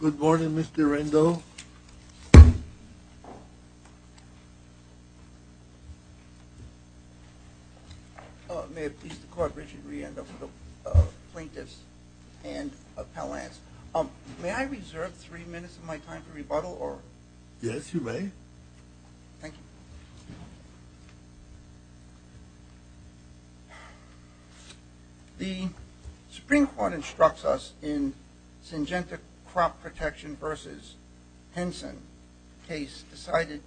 Good morning, Mr. Rendell. May it please the Court, Richard Reandell, plaintiffs and appellants. May I reserve three minutes of my time for rebuttal? Yes, you may. Thank you. The Supreme Court instructs us in Syngenta Crop Protection v. Henson case reported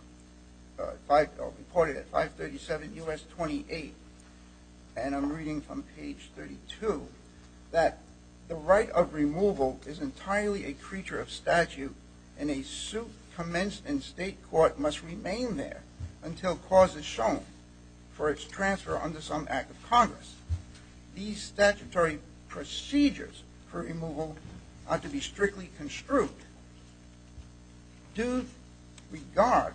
at 537 U.S. 28, and I'm reading from page 32, that the right of removal is entirely a creature of statute, and a suit commenced in state court must remain there until cause is shown for its transfer under some act of Congress. These statutory procedures for removal are to be strictly construed. Due regard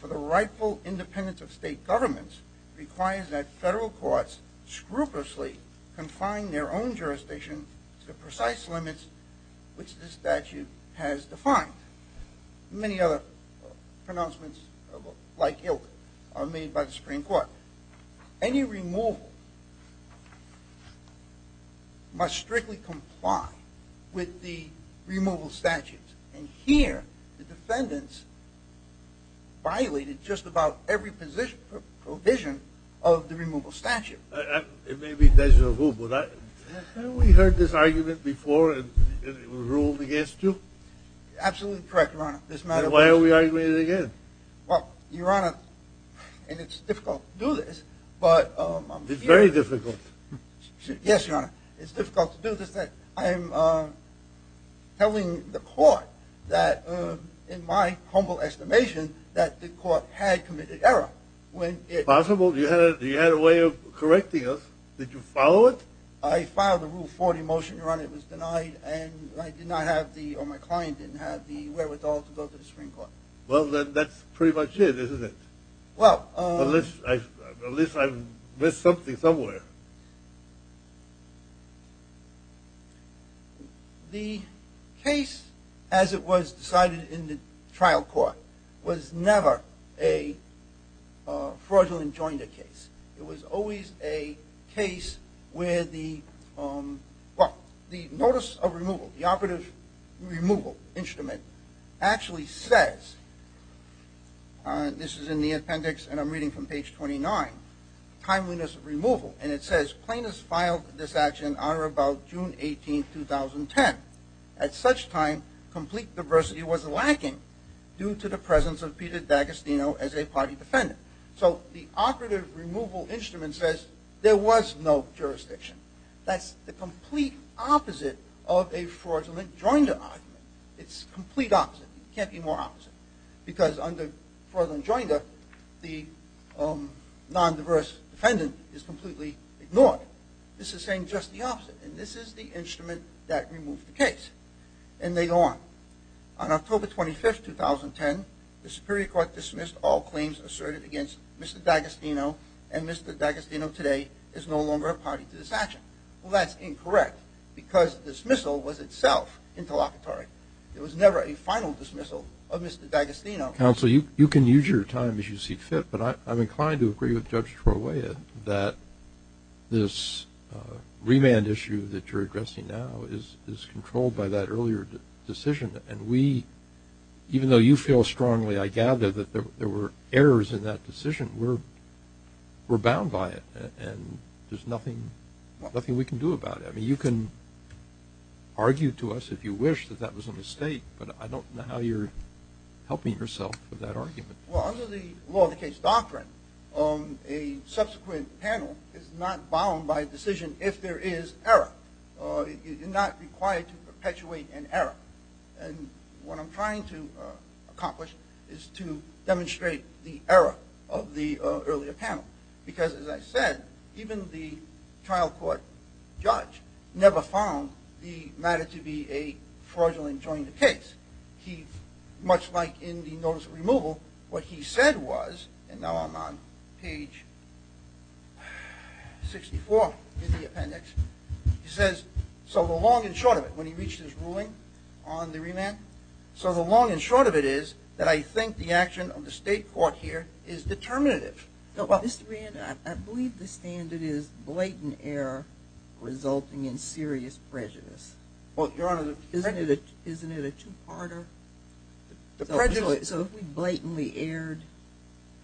for the rightful independence of state governments requires that federal courts scrupulously confine their own jurisdiction to the precise limits which this statute has defined. Many other pronouncements like ilk are made by the Supreme Court. Any removal must strictly comply with the removal statutes, and here the defendants violated just about every provision of the removal statute. It may be déjà vu, but haven't we heard this argument before and it was ruled against you? Absolutely correct, Your Honor. Then why are we arguing it again? Well, Your Honor, and it's difficult to do this, but... It's very difficult. Yes, Your Honor. It's difficult to do this. I'm telling the court that in my humble estimation that the court had committed error when it... Possible. You had a way of correcting us. Did you follow it? I filed a Rule 40 motion, Your Honor. It was denied, and I did not have the, or my client didn't have the wherewithal to go to the Supreme Court. Well, then that's pretty much it, isn't it? Well... At least I missed something somewhere. The case as it was decided in the trial court was never a fraudulent joinder case. It was always a case where the, well, the notice of removal, the operative removal instrument actually says, this is in the appendix and I'm reading from page 29, timeliness of removal, and it says plaintiffs filed this action on or about June 18, 2010. At such time, complete diversity was lacking due to the presence of Peter D'Agostino as a party defendant. So the operative removal instrument says there was no jurisdiction. That's the complete opposite of a fraudulent joinder argument. It's the complete opposite. It can't be more opposite. Because under fraudulent joinder, the non-diverse defendant is completely ignored. This is saying just the opposite, and this is the instrument that removed the case. And they go on. On October 25, 2010, the Superior Court dismissed all claims asserted against Mr. D'Agostino, and Mr. D'Agostino today is no longer a party to this action. Well, that's incorrect because dismissal was itself interlocutory. There was never a final dismissal of Mr. D'Agostino. Counsel, you can use your time as you see fit, but I'm inclined to agree with Judge Troya that this remand issue that you're addressing now is controlled by that earlier decision. And we, even though you feel strongly, I gather, that there were errors in that decision, we're bound by it and there's nothing we can do about it. I mean, you can argue to us if you wish that that was a mistake, but I don't know how you're helping yourself with that argument. Well, under the law of the case doctrine, a subsequent panel is not bound by a decision if there is error. You're not required to perpetuate an error. And what I'm trying to accomplish is to demonstrate the error of the earlier panel. Because as I said, even the trial court judge never found the matter to be a fraudulent jointed case. He, much like in the notice of removal, what he said was, and now I'm on page 64 in the appendix, he says, so the long and short of it, when he reached his ruling on the remand, so the long and short of it is that I think the action of the state court here is determinative. Mr. Rand, I believe the standard is blatant error resulting in serious prejudice. Well, Your Honor, the prejudice... Isn't it a two-parter? The prejudice... So if we blatantly erred,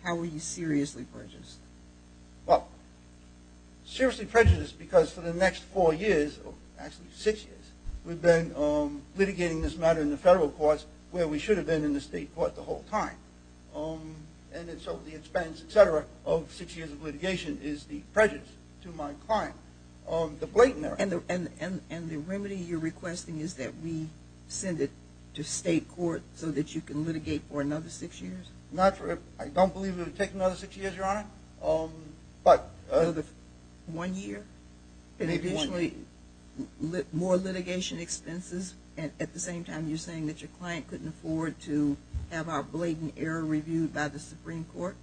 how are you seriously prejudiced? Well, seriously prejudiced because for the next four years, actually six years, we've been litigating this matter in the federal courts where we should have been in the state court the whole time. And so the expense, et cetera, of six years of litigation is the prejudice to my client. The blatant error... And the remedy you're requesting is that we send it to state court so that you can litigate for another six years? I don't believe it would take another six years, Your Honor, but... One year? And eventually more litigation expenses at the same time you're saying that your client couldn't afford to have our blatant error reviewed by the Supreme Court?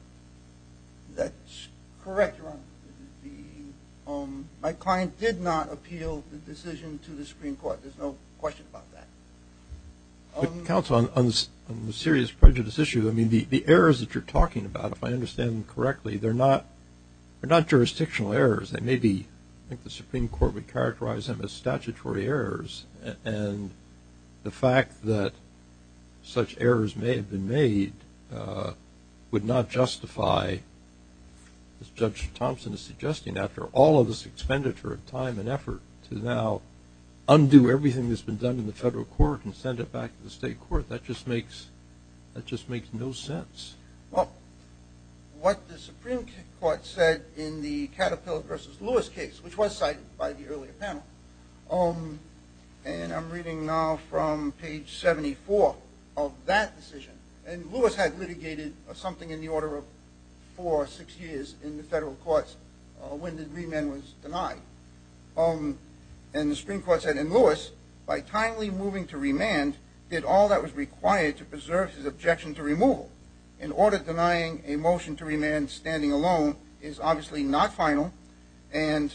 That's correct, Your Honor. My client did not appeal the decision to the Supreme Court. There's no question about that. Counsel, on the serious prejudice issue, I mean, the errors that you're talking about, if I understand them correctly, they're not jurisdictional errors. They may be, I think the Supreme Court would characterize them as statutory errors, and the fact that such errors may have been made would not justify, as Judge Thompson is suggesting, after all of this expenditure of time and effort to now undo everything that's been done in the federal court and send it back to the state court, that just makes no sense. Well, what the Supreme Court said in the Caterpillar v. Lewis case, which was cited by the earlier panel, and I'm reading now from page 74 of that decision, and Lewis had litigated something in the order of four or six years in the federal courts when the remand was denied. And the Supreme Court said, and Lewis, by timely moving to remand, did all that was required to preserve his objection to removal. An order denying a motion to remand standing alone is obviously not final, and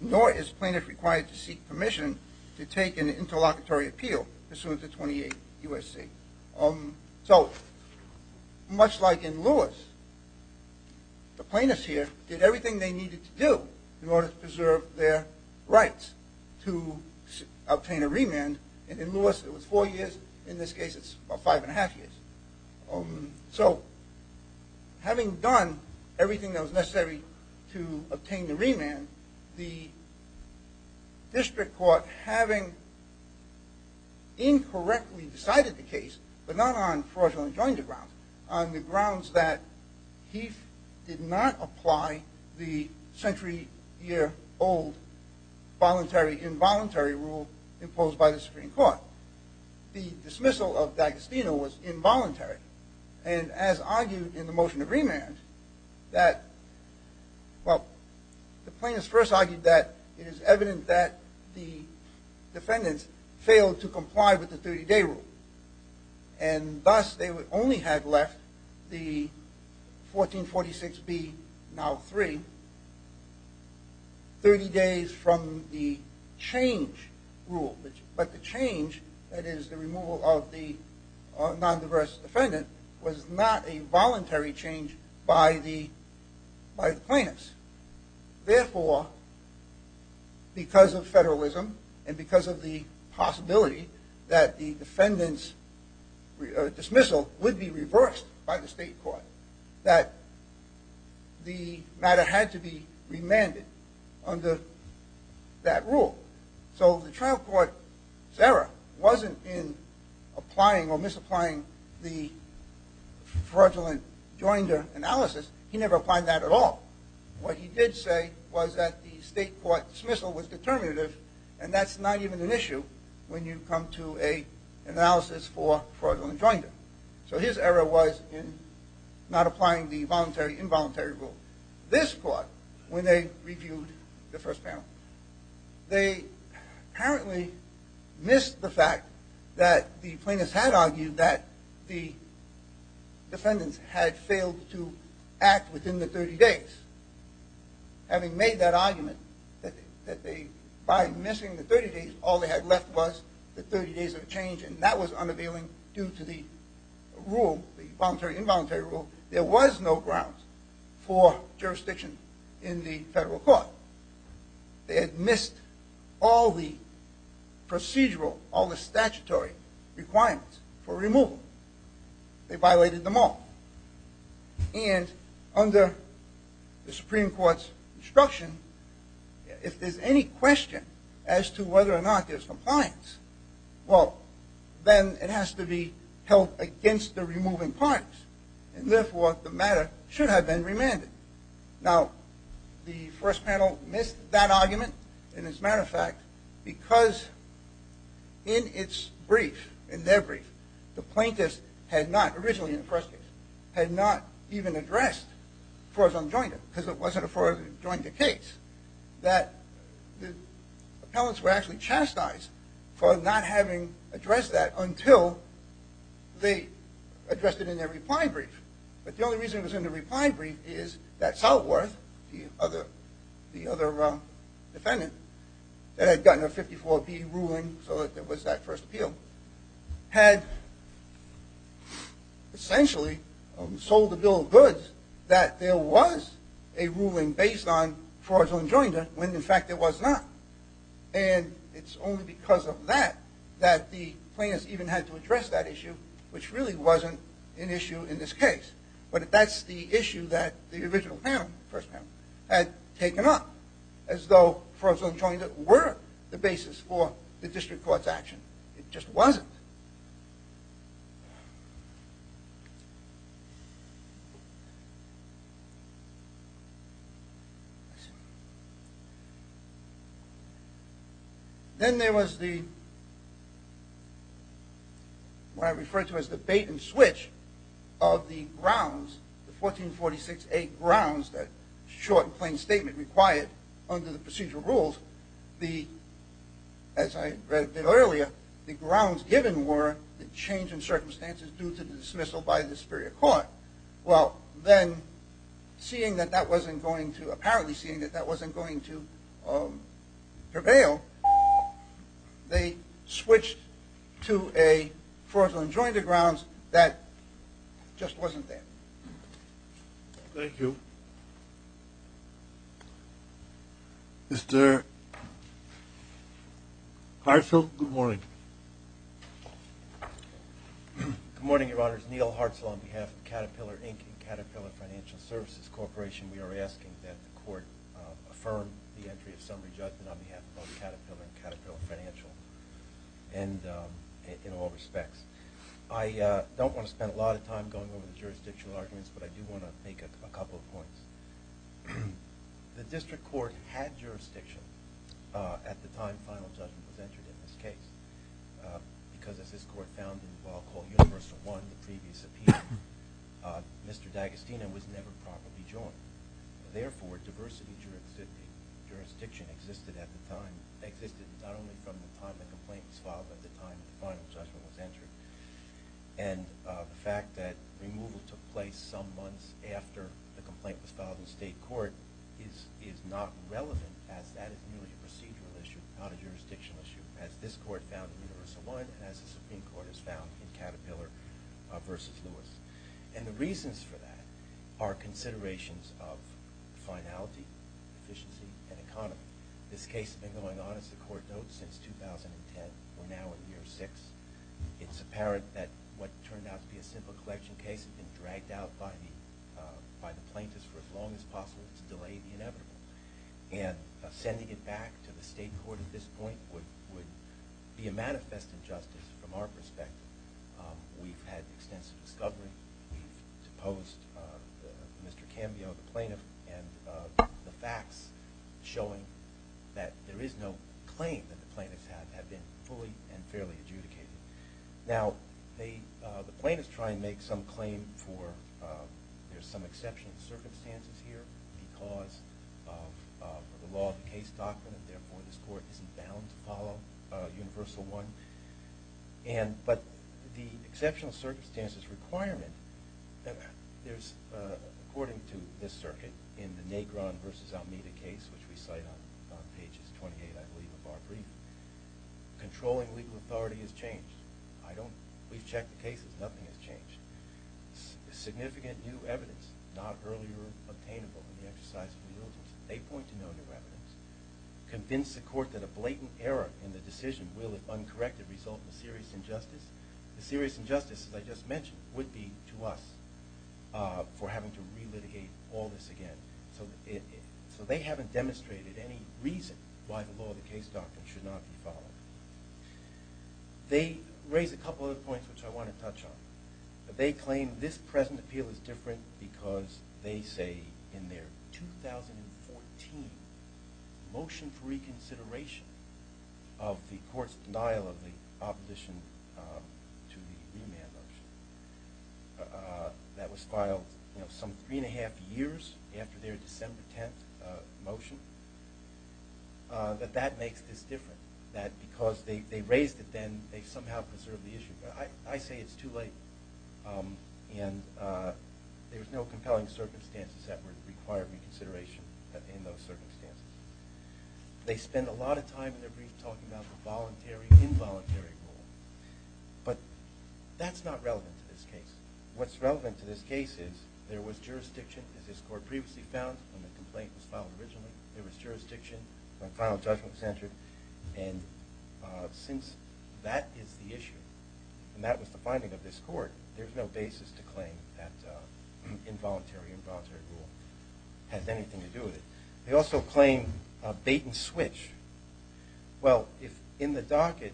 nor is plaintiff required to seek permission to take an interlocutory appeal pursuant to 28 U.S.C. So, much like in Lewis, the plaintiffs here did everything they needed to do in order to preserve their rights to obtain a remand, and in Lewis it was four years, in this case it's about five and a half years. So, having done everything that was necessary to obtain the remand, the district court, having incorrectly decided the case, but not on fraudulent jointed grounds, on the grounds that Heath did not apply the century-year-old voluntary-involuntary rule imposed by the Supreme Court, well, the dismissal of D'Agostino was involuntary, and as argued in the motion to remand, that, well, the plaintiffs first argued that it is evident that the defendants failed to comply with the 30-day rule, and thus they only had left the 1446B, now 3, 30 days from the change rule. But the change, that is the removal of the non-diverse defendant, was not a voluntary change by the plaintiffs. Therefore, because of federalism and because of the possibility that the defendant's dismissal would be reversed by the state court, that the matter had to be remanded under that rule. So, the trial court's error wasn't in applying or misapplying the fraudulent jointer analysis. He never applied that at all. What he did say was that the state court dismissal was determinative, and that's not even an issue when you come to an analysis for fraudulent jointer. So, his error was in not applying the voluntary-involuntary rule. This court, when they reviewed the first panel, they apparently missed the fact that the plaintiffs had argued that the defendants had failed to act within the 30 days. Having made that argument, that by missing the 30 days, all they had left was the 30 days of change, and that was unavailing due to the rule, the voluntary-involuntary rule. There was no grounds for jurisdiction in the federal court. They had missed all the procedural, all the statutory requirements for removal. They violated them all. And under the Supreme Court's instruction, if there's any question as to whether or not there's compliance, well, then it has to be held against the removing parties. And therefore, the matter should have been remanded. Now, the first panel missed that argument, and as a matter of fact, because in its brief, in their brief, the plaintiffs had not, originally in the first case, had not even addressed fraudulent jointer, because it wasn't a fraudulent jointer case. That the appellants were actually chastised for not having addressed that until they addressed it in their reply brief. But the only reason it was in the reply brief is that Southworth, the other defendant, that had gotten a 54B ruling so that there was that first appeal, had essentially sold the bill of goods that there was a ruling based on fraudulent jointer, when in fact there was not. And it's only because of that that the plaintiffs even had to address that issue, which really wasn't an issue in this case. But that's the issue that the original panel, first panel, had taken up, as though fraudulent jointer were the basis for the district court's action. It just wasn't. Then there was the, what I refer to as the bait and switch of the grounds, the 1446A grounds, that short and plain statement required under the procedural rules, as I read earlier, the grounds given were the change in circumstances due to the dismissal by the superior court. Well, then, seeing that that wasn't going to, apparently seeing that that wasn't going to prevail, they switched to a fraudulent jointer grounds that just wasn't there. Thank you. Mr. Hartzell, good morning. Good morning, Your Honors. Neil Hartzell on behalf of Caterpillar Inc. and Caterpillar Financial Services Corporation. We are asking that the court affirm the entry of summary judgment on behalf of Caterpillar and Caterpillar Financial in all respects. I don't want to spend a lot of time going over the jurisdictional arguments, but I do want to make a couple of points. The district court had jurisdiction at the time final judgment was entered in this case, because as this court found in what I'll call universal one, the previous appeal, Mr. D'Agostino was never properly joined. Therefore, diversity jurisdiction existed at the time, existed not only from the time the complaint was filed, but the time the final judgment was entered. And the fact that removal took place some months after the complaint was filed in state court is not relevant as that is merely a procedural issue, not a jurisdictional issue, as this court found in universal one and as the Supreme Court has found in Caterpillar v. Lewis. And the reasons for that are considerations of finality, efficiency, and economy. This case has been going on, as the court notes, since 2010. We're now in year six. It's apparent that what turned out to be a simple collection case had been dragged out by the plaintiffs for as long as possible to delay the inevitable. And sending it back to the state court at this point would be a manifest injustice from our perspective. We've had extensive discovery. We've deposed Mr. Cambio, the plaintiff, and the facts showing that there is no claim that the plaintiffs have been fully and fairly adjudicated. Now, the plaintiffs try and make some claim for there's some exceptional circumstances here because of the law of the case doctrine, and therefore this court isn't bound to follow universal one. But the exceptional circumstances requirement, according to this circuit, in the Negron v. Almeida case, which we cite on pages 28, I believe, of our brief, controlling legal authority has changed. We've checked the cases. Nothing has changed. Significant new evidence, not earlier obtainable in the exercise of legalism. They point to no new evidence. Convince the court that a blatant error in the decision will, if uncorrected, result in a serious injustice. The serious injustice, as I just mentioned, would be to us for having to relitigate all this again. So they haven't demonstrated any reason why the law of the case doctrine should not be followed. They raise a couple other points which I want to touch on. They claim this present appeal is different because they say in their 2014 motion for reconsideration of the court's denial of the opposition to the remand motion that was filed some three and a half years after their December 10th motion, that that makes this different. That because they raised it then, they've somehow preserved the issue. I say it's too late. And there's no compelling circumstances that would require reconsideration in those circumstances. They spend a lot of time in their brief talking about the voluntary, involuntary rule. But that's not relevant to this case. What's relevant to this case is there was jurisdiction, as this court previously found, when the complaint was filed originally. There was jurisdiction when final judgment was entered. And since that is the issue, and that was the finding of this court, there's no basis to claim that involuntary, involuntary rule has anything to do with it. They also claim a bait and switch. Well, in the docket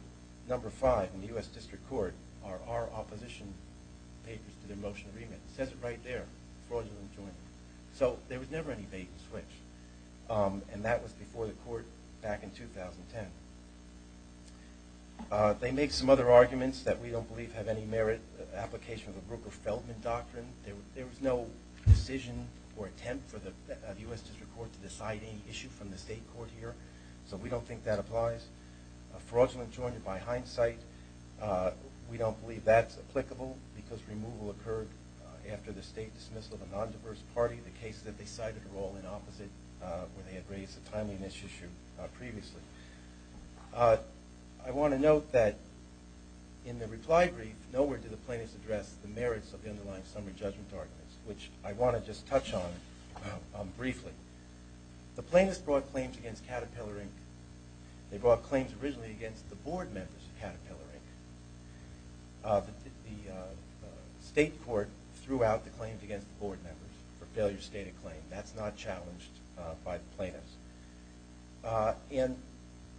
number five in the U.S. District Court are our opposition papers to the motion of remand. It says it right there, fraudulent enjoyment. So there was never any bait and switch. And that was before the court back in 2010. They make some other arguments that we don't believe have any merit application of the Brooker-Feldman Doctrine. There was no decision or attempt for the U.S. District Court to decide any issue from the state court here. So we don't think that applies. Fraudulent enjoyment, by hindsight, we don't believe that's applicable because removal occurred after the state dismissal of a nondiverse party. The cases that they cited were all in opposite where they had raised a timely issue previously. I want to note that in the reply brief, nowhere did the plaintiffs address the merits of the underlying summary judgment arguments, which I want to just touch on briefly. The plaintiffs brought claims against Caterpillar, Inc. They brought claims originally against the board members of Caterpillar, Inc. The state court threw out the claims against the board members for failure to state a claim. That's not challenged by the plaintiffs.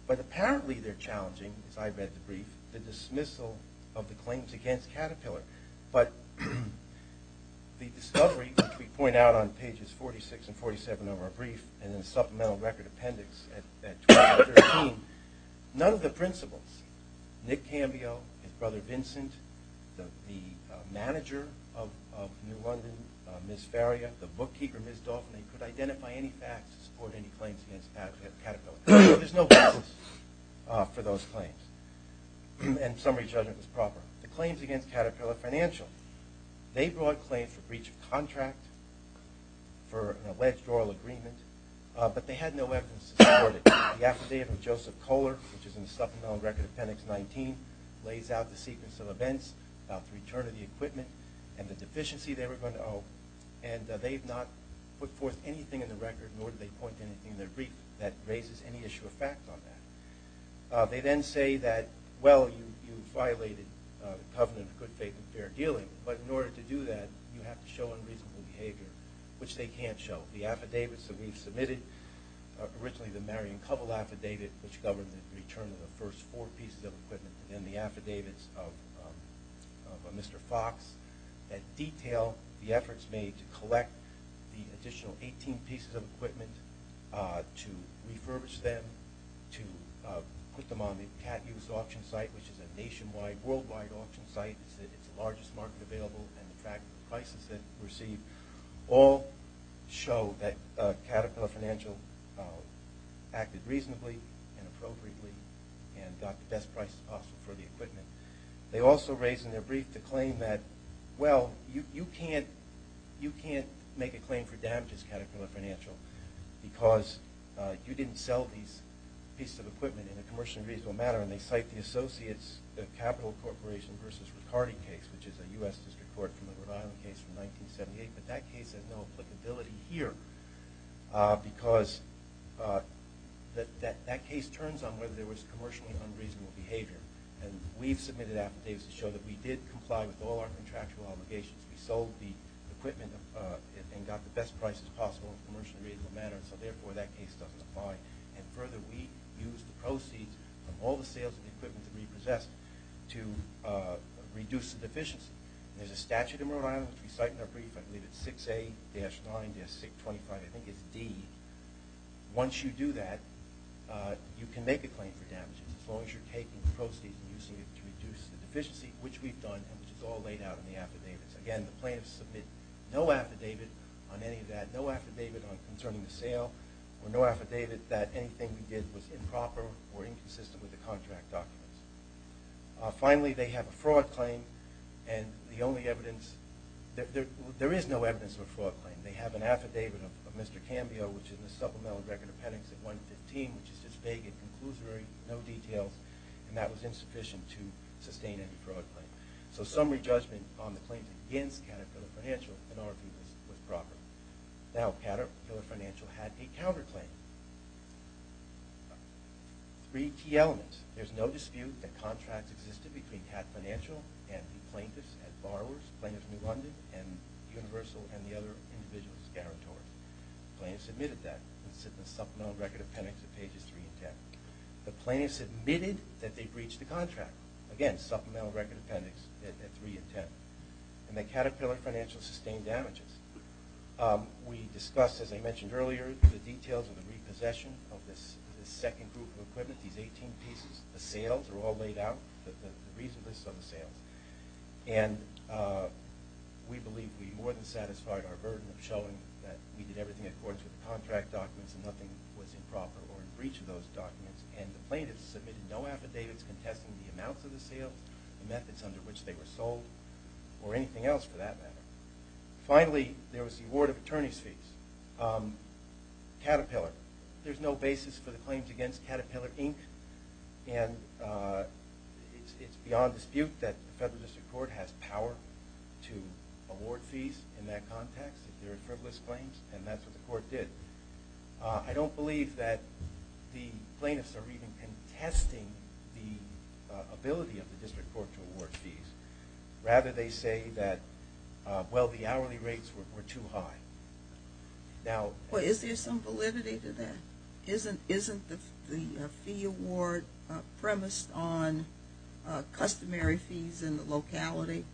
But apparently they're challenging, as I read the brief, the dismissal of the claims against Caterpillar. But the discovery, which we point out on pages 46 and 47 of our brief and in the supplemental record appendix at 2013, none of the principals, Nick Cambio, his brother Vincent, the manager of New London, Ms. Faria, the bookkeeper, Ms. Dalton, they could identify any facts to support any claims against Caterpillar. So there's no basis for those claims. And summary judgment was proper. The claims against Caterpillar Financial, they brought claims for breach of contract, for an alleged oil agreement, but they had no evidence to support it. The affidavit of Joseph Kohler, which is in the supplemental record appendix 19, lays out the sequence of events about the return of the equipment and the deficiency they were going to owe. And they've not put forth anything in the record, nor did they point to anything in the brief that raises any issue or fact on that. They then say that, well, you violated the covenant of good faith and fair dealing, but in order to do that, you have to show unreasonable behavior, which they can't show. The affidavits that we've submitted, originally the Marion Covell affidavit, which governs the return of the first four pieces of equipment, and then the affidavits of Mr. Fox, that detail the efforts made to collect the additional 18 pieces of equipment, to refurbish them, to put them on the CatUse auction site, which is a nationwide, worldwide auction site. It's the largest market available and the track prices that it received all show that Caterpillar Financial acted reasonably and appropriately and got the best price possible for the equipment. They also raise in their brief the claim that, well, you can't make a claim for damages, Caterpillar Financial, because you didn't sell these pieces of equipment in a commercially reasonable manner. And they cite the Associates Capital Corporation v. Ricardi case, which is a U.S. District Court from the Rhode Island case from 1978. But that case has no applicability here, because that case turns on whether there was commercially unreasonable behavior. And we've submitted affidavits to show that we did comply with all our contractual obligations. We sold the equipment and got the best prices possible in a commercially reasonable manner, so therefore that case doesn't apply. And further, we used the proceeds from all the sales of the equipment that we possessed to reduce the deficiency. There's a statute in Rhode Island, which we cite in our brief. I believe it's 6A-9-625, I think it's D. Once you do that, you can make a claim for damages, as long as you're taking the proceeds and using it to reduce the deficiency, which we've done and which is all laid out in the affidavits. Again, the plaintiffs submit no affidavit on any of that, no affidavit concerning the sale, or no affidavit that anything we did was improper or inconsistent with the contract documents. Finally, they have a fraud claim. There is no evidence of a fraud claim. They have an affidavit of Mr. Cambio, which is in the Supplemental Record of Penance at 115, which is just vague and conclusory, no details, and that was insufficient to sustain any fraud claim. So summary judgment on the claims against Caterpillar Financial in our view was proper. Now, Caterpillar Financial had a counterclaim. Three key elements. There's no dispute that contracts existed between Caterpillar Financial and the plaintiffs as borrowers, plaintiffs in New London, and Universal and the other individuals' territories. The plaintiffs admitted that in the Supplemental Record of Penance at pages 3 and 10. The plaintiffs admitted that they breached the contract. Again, Supplemental Record of Penance at 3 and 10. And that Caterpillar Financial sustained damages. We discussed, as I mentioned earlier, the details of the repossession of this second group of equipment, these 18 pieces. The sales are all laid out, the recent lists of the sales. And we believe we more than satisfied our burden of showing that we did everything in accordance with the contract documents and nothing was improper or in breach of those documents. And the plaintiffs submitted no affidavits contesting the amounts of the sales, the methods under which they were sold, or anything else for that matter. Finally, there was the award of attorney's fees. Caterpillar. There's no basis for the claims against Caterpillar, Inc. And it's beyond dispute that the federal district court has power to award fees in that context if there are frivolous claims, and that's what the court did. I don't believe that the plaintiffs are even contesting the ability of the district court to award fees. Rather, they say that, well, the hourly rates were too high. Is there some validity to that? Isn't the fee award premised on customary fees in the locality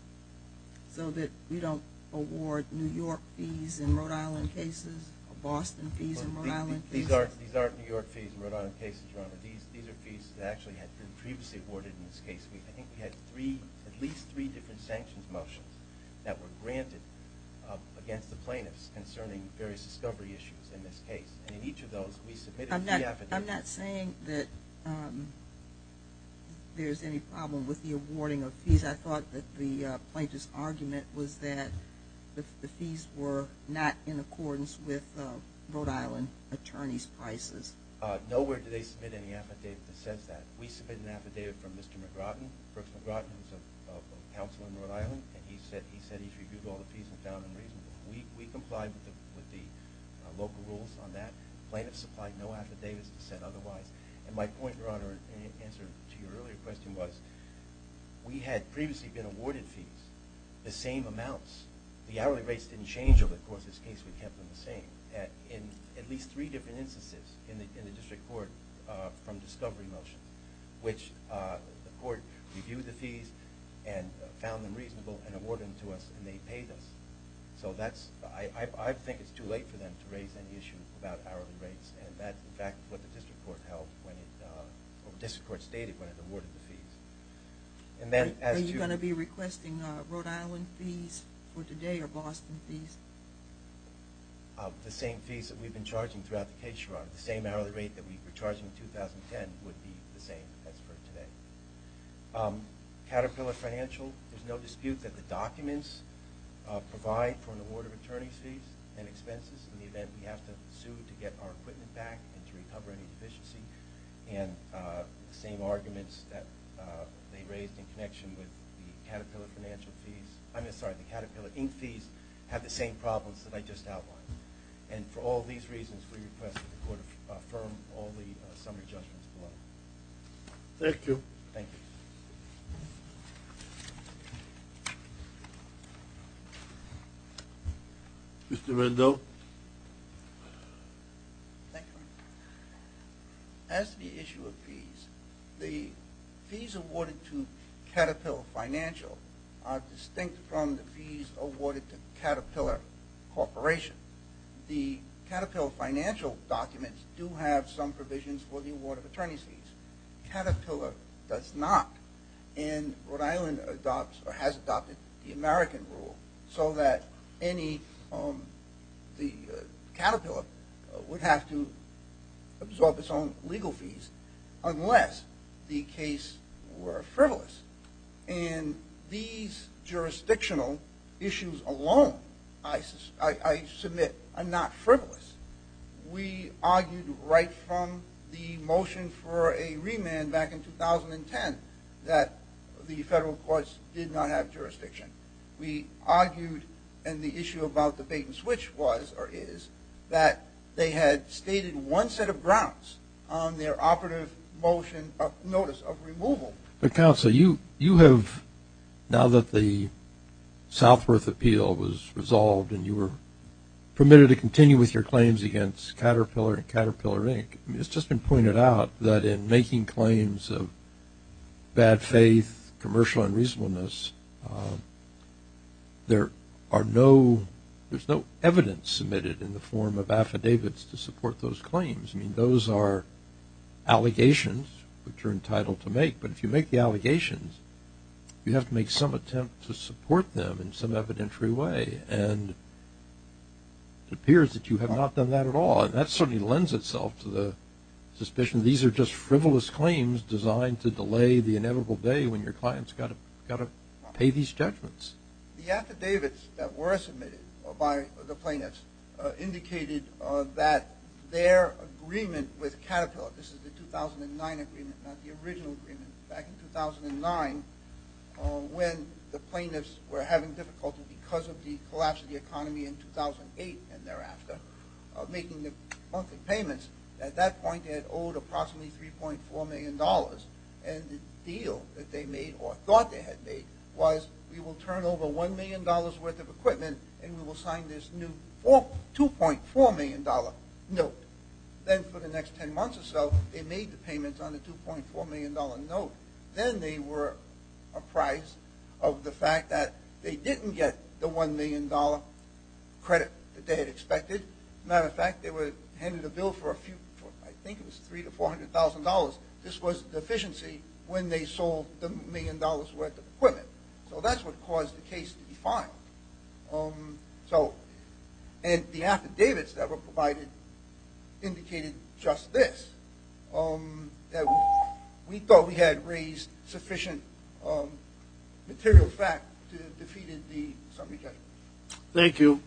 so that we don't award New York fees in Rhode Island cases or Boston fees in Rhode Island cases? These aren't New York fees in Rhode Island cases, Your Honor. These are fees that actually had been previously awarded in this case. I think we had at least three different sanctions motions that were granted against the plaintiffs concerning various discovery issues in this case. And in each of those, we submitted a fee affidavit. I'm not saying that there's any problem with the awarding of fees. I thought that the plaintiff's argument was that the fees were not in accordance with Rhode Island attorneys' prices. Nowhere do they submit any affidavit that says that. We submitted an affidavit from Mr. McRodden. Brooks McRodden is a counsel in Rhode Island. He said he's reviewed all the fees and found them reasonable. We complied with the local rules on that. The plaintiffs supplied no affidavits that said otherwise. And my point, Your Honor, in answer to your earlier question was we had previously been awarded fees the same amounts. The hourly rates didn't change, but, of course, in this case we kept them the same in at least three different instances in the district court from discovery motions, which the court reviewed the fees and found them reasonable and awarded them to us, and they paid us. So I think it's too late for them to raise any issue about hourly rates, and that's, in fact, what the district court stated when it awarded the fees. Are you going to be requesting Rhode Island fees for today or Boston fees? The same fees that we've been charging throughout the case, Your Honor. The same hourly rate that we were charging in 2010 would be the same as for today. Caterpillar Financial, there's no dispute that the documents provide for an award of attorney's fees and expenses in the event we have to sue to get our equipment back and to recover any deficiency. And the same arguments that they raised in connection with the Caterpillar Financial fees I'm sorry, the Caterpillar Inc. fees have the same problems that I just outlined. And for all these reasons, we request that the court affirm all the summary judgments below. Thank you. Thank you. Thank you, Your Honor. As to the issue of fees, the fees awarded to Caterpillar Financial are distinct from the fees awarded to Caterpillar Corporation. The Caterpillar Financial documents do have some provisions for the award of attorney's fees. Caterpillar does not, and Rhode Island adopts or has adopted the American rule so that the Caterpillar would have to absorb its own legal fees unless the case were frivolous. And these jurisdictional issues alone, I submit, are not frivolous. We argued right from the motion for a remand back in 2010 that the federal courts did not have jurisdiction. We argued, and the issue about the bait and switch was or is, that they had stated one set of grounds on their operative motion of notice of removal. Counsel, you have, now that the Southworth Appeal was resolved and you were permitted to continue with your claims against Caterpillar and Caterpillar Inc., it's just been pointed out that in making claims of bad faith, commercial unreasonableness, there are no, there's no evidence submitted in the form of affidavits to support those claims. I mean, those are allegations which are entitled to make, but if you make the allegations, you have to make some attempt to support them in some evidentiary way. And it appears that you have not done that at all, and that certainly lends itself to the suspicion that these are just frivolous claims designed to delay the inevitable day when your client's got to pay these judgments. The affidavits that were submitted by the plaintiffs indicated that their agreement with Caterpillar, this is the 2009 agreement, not the original agreement, back in 2009, when the plaintiffs were having difficulty because of the collapse of the economy in 2008 and thereafter, making the monthly payments, at that point they had owed approximately $3.4 million. And the deal that they made, or thought they had made, was we will turn over $1 million worth of equipment and we will sign this new $2.4 million note. Then for the next 10 months or so, they made the payments on the $2.4 million note. Then they were apprised of the fact that they didn't get the $1 million credit that they had expected. As a matter of fact, they were handed a bill for a few, I think it was $300,000 to $400,000. This was the deficiency when they sold the $1 million worth of equipment. So that's what caused the case to be filed. And the affidavits that were provided indicated just this, that we thought we had raised sufficient material fact to defeat the subject. Thank you.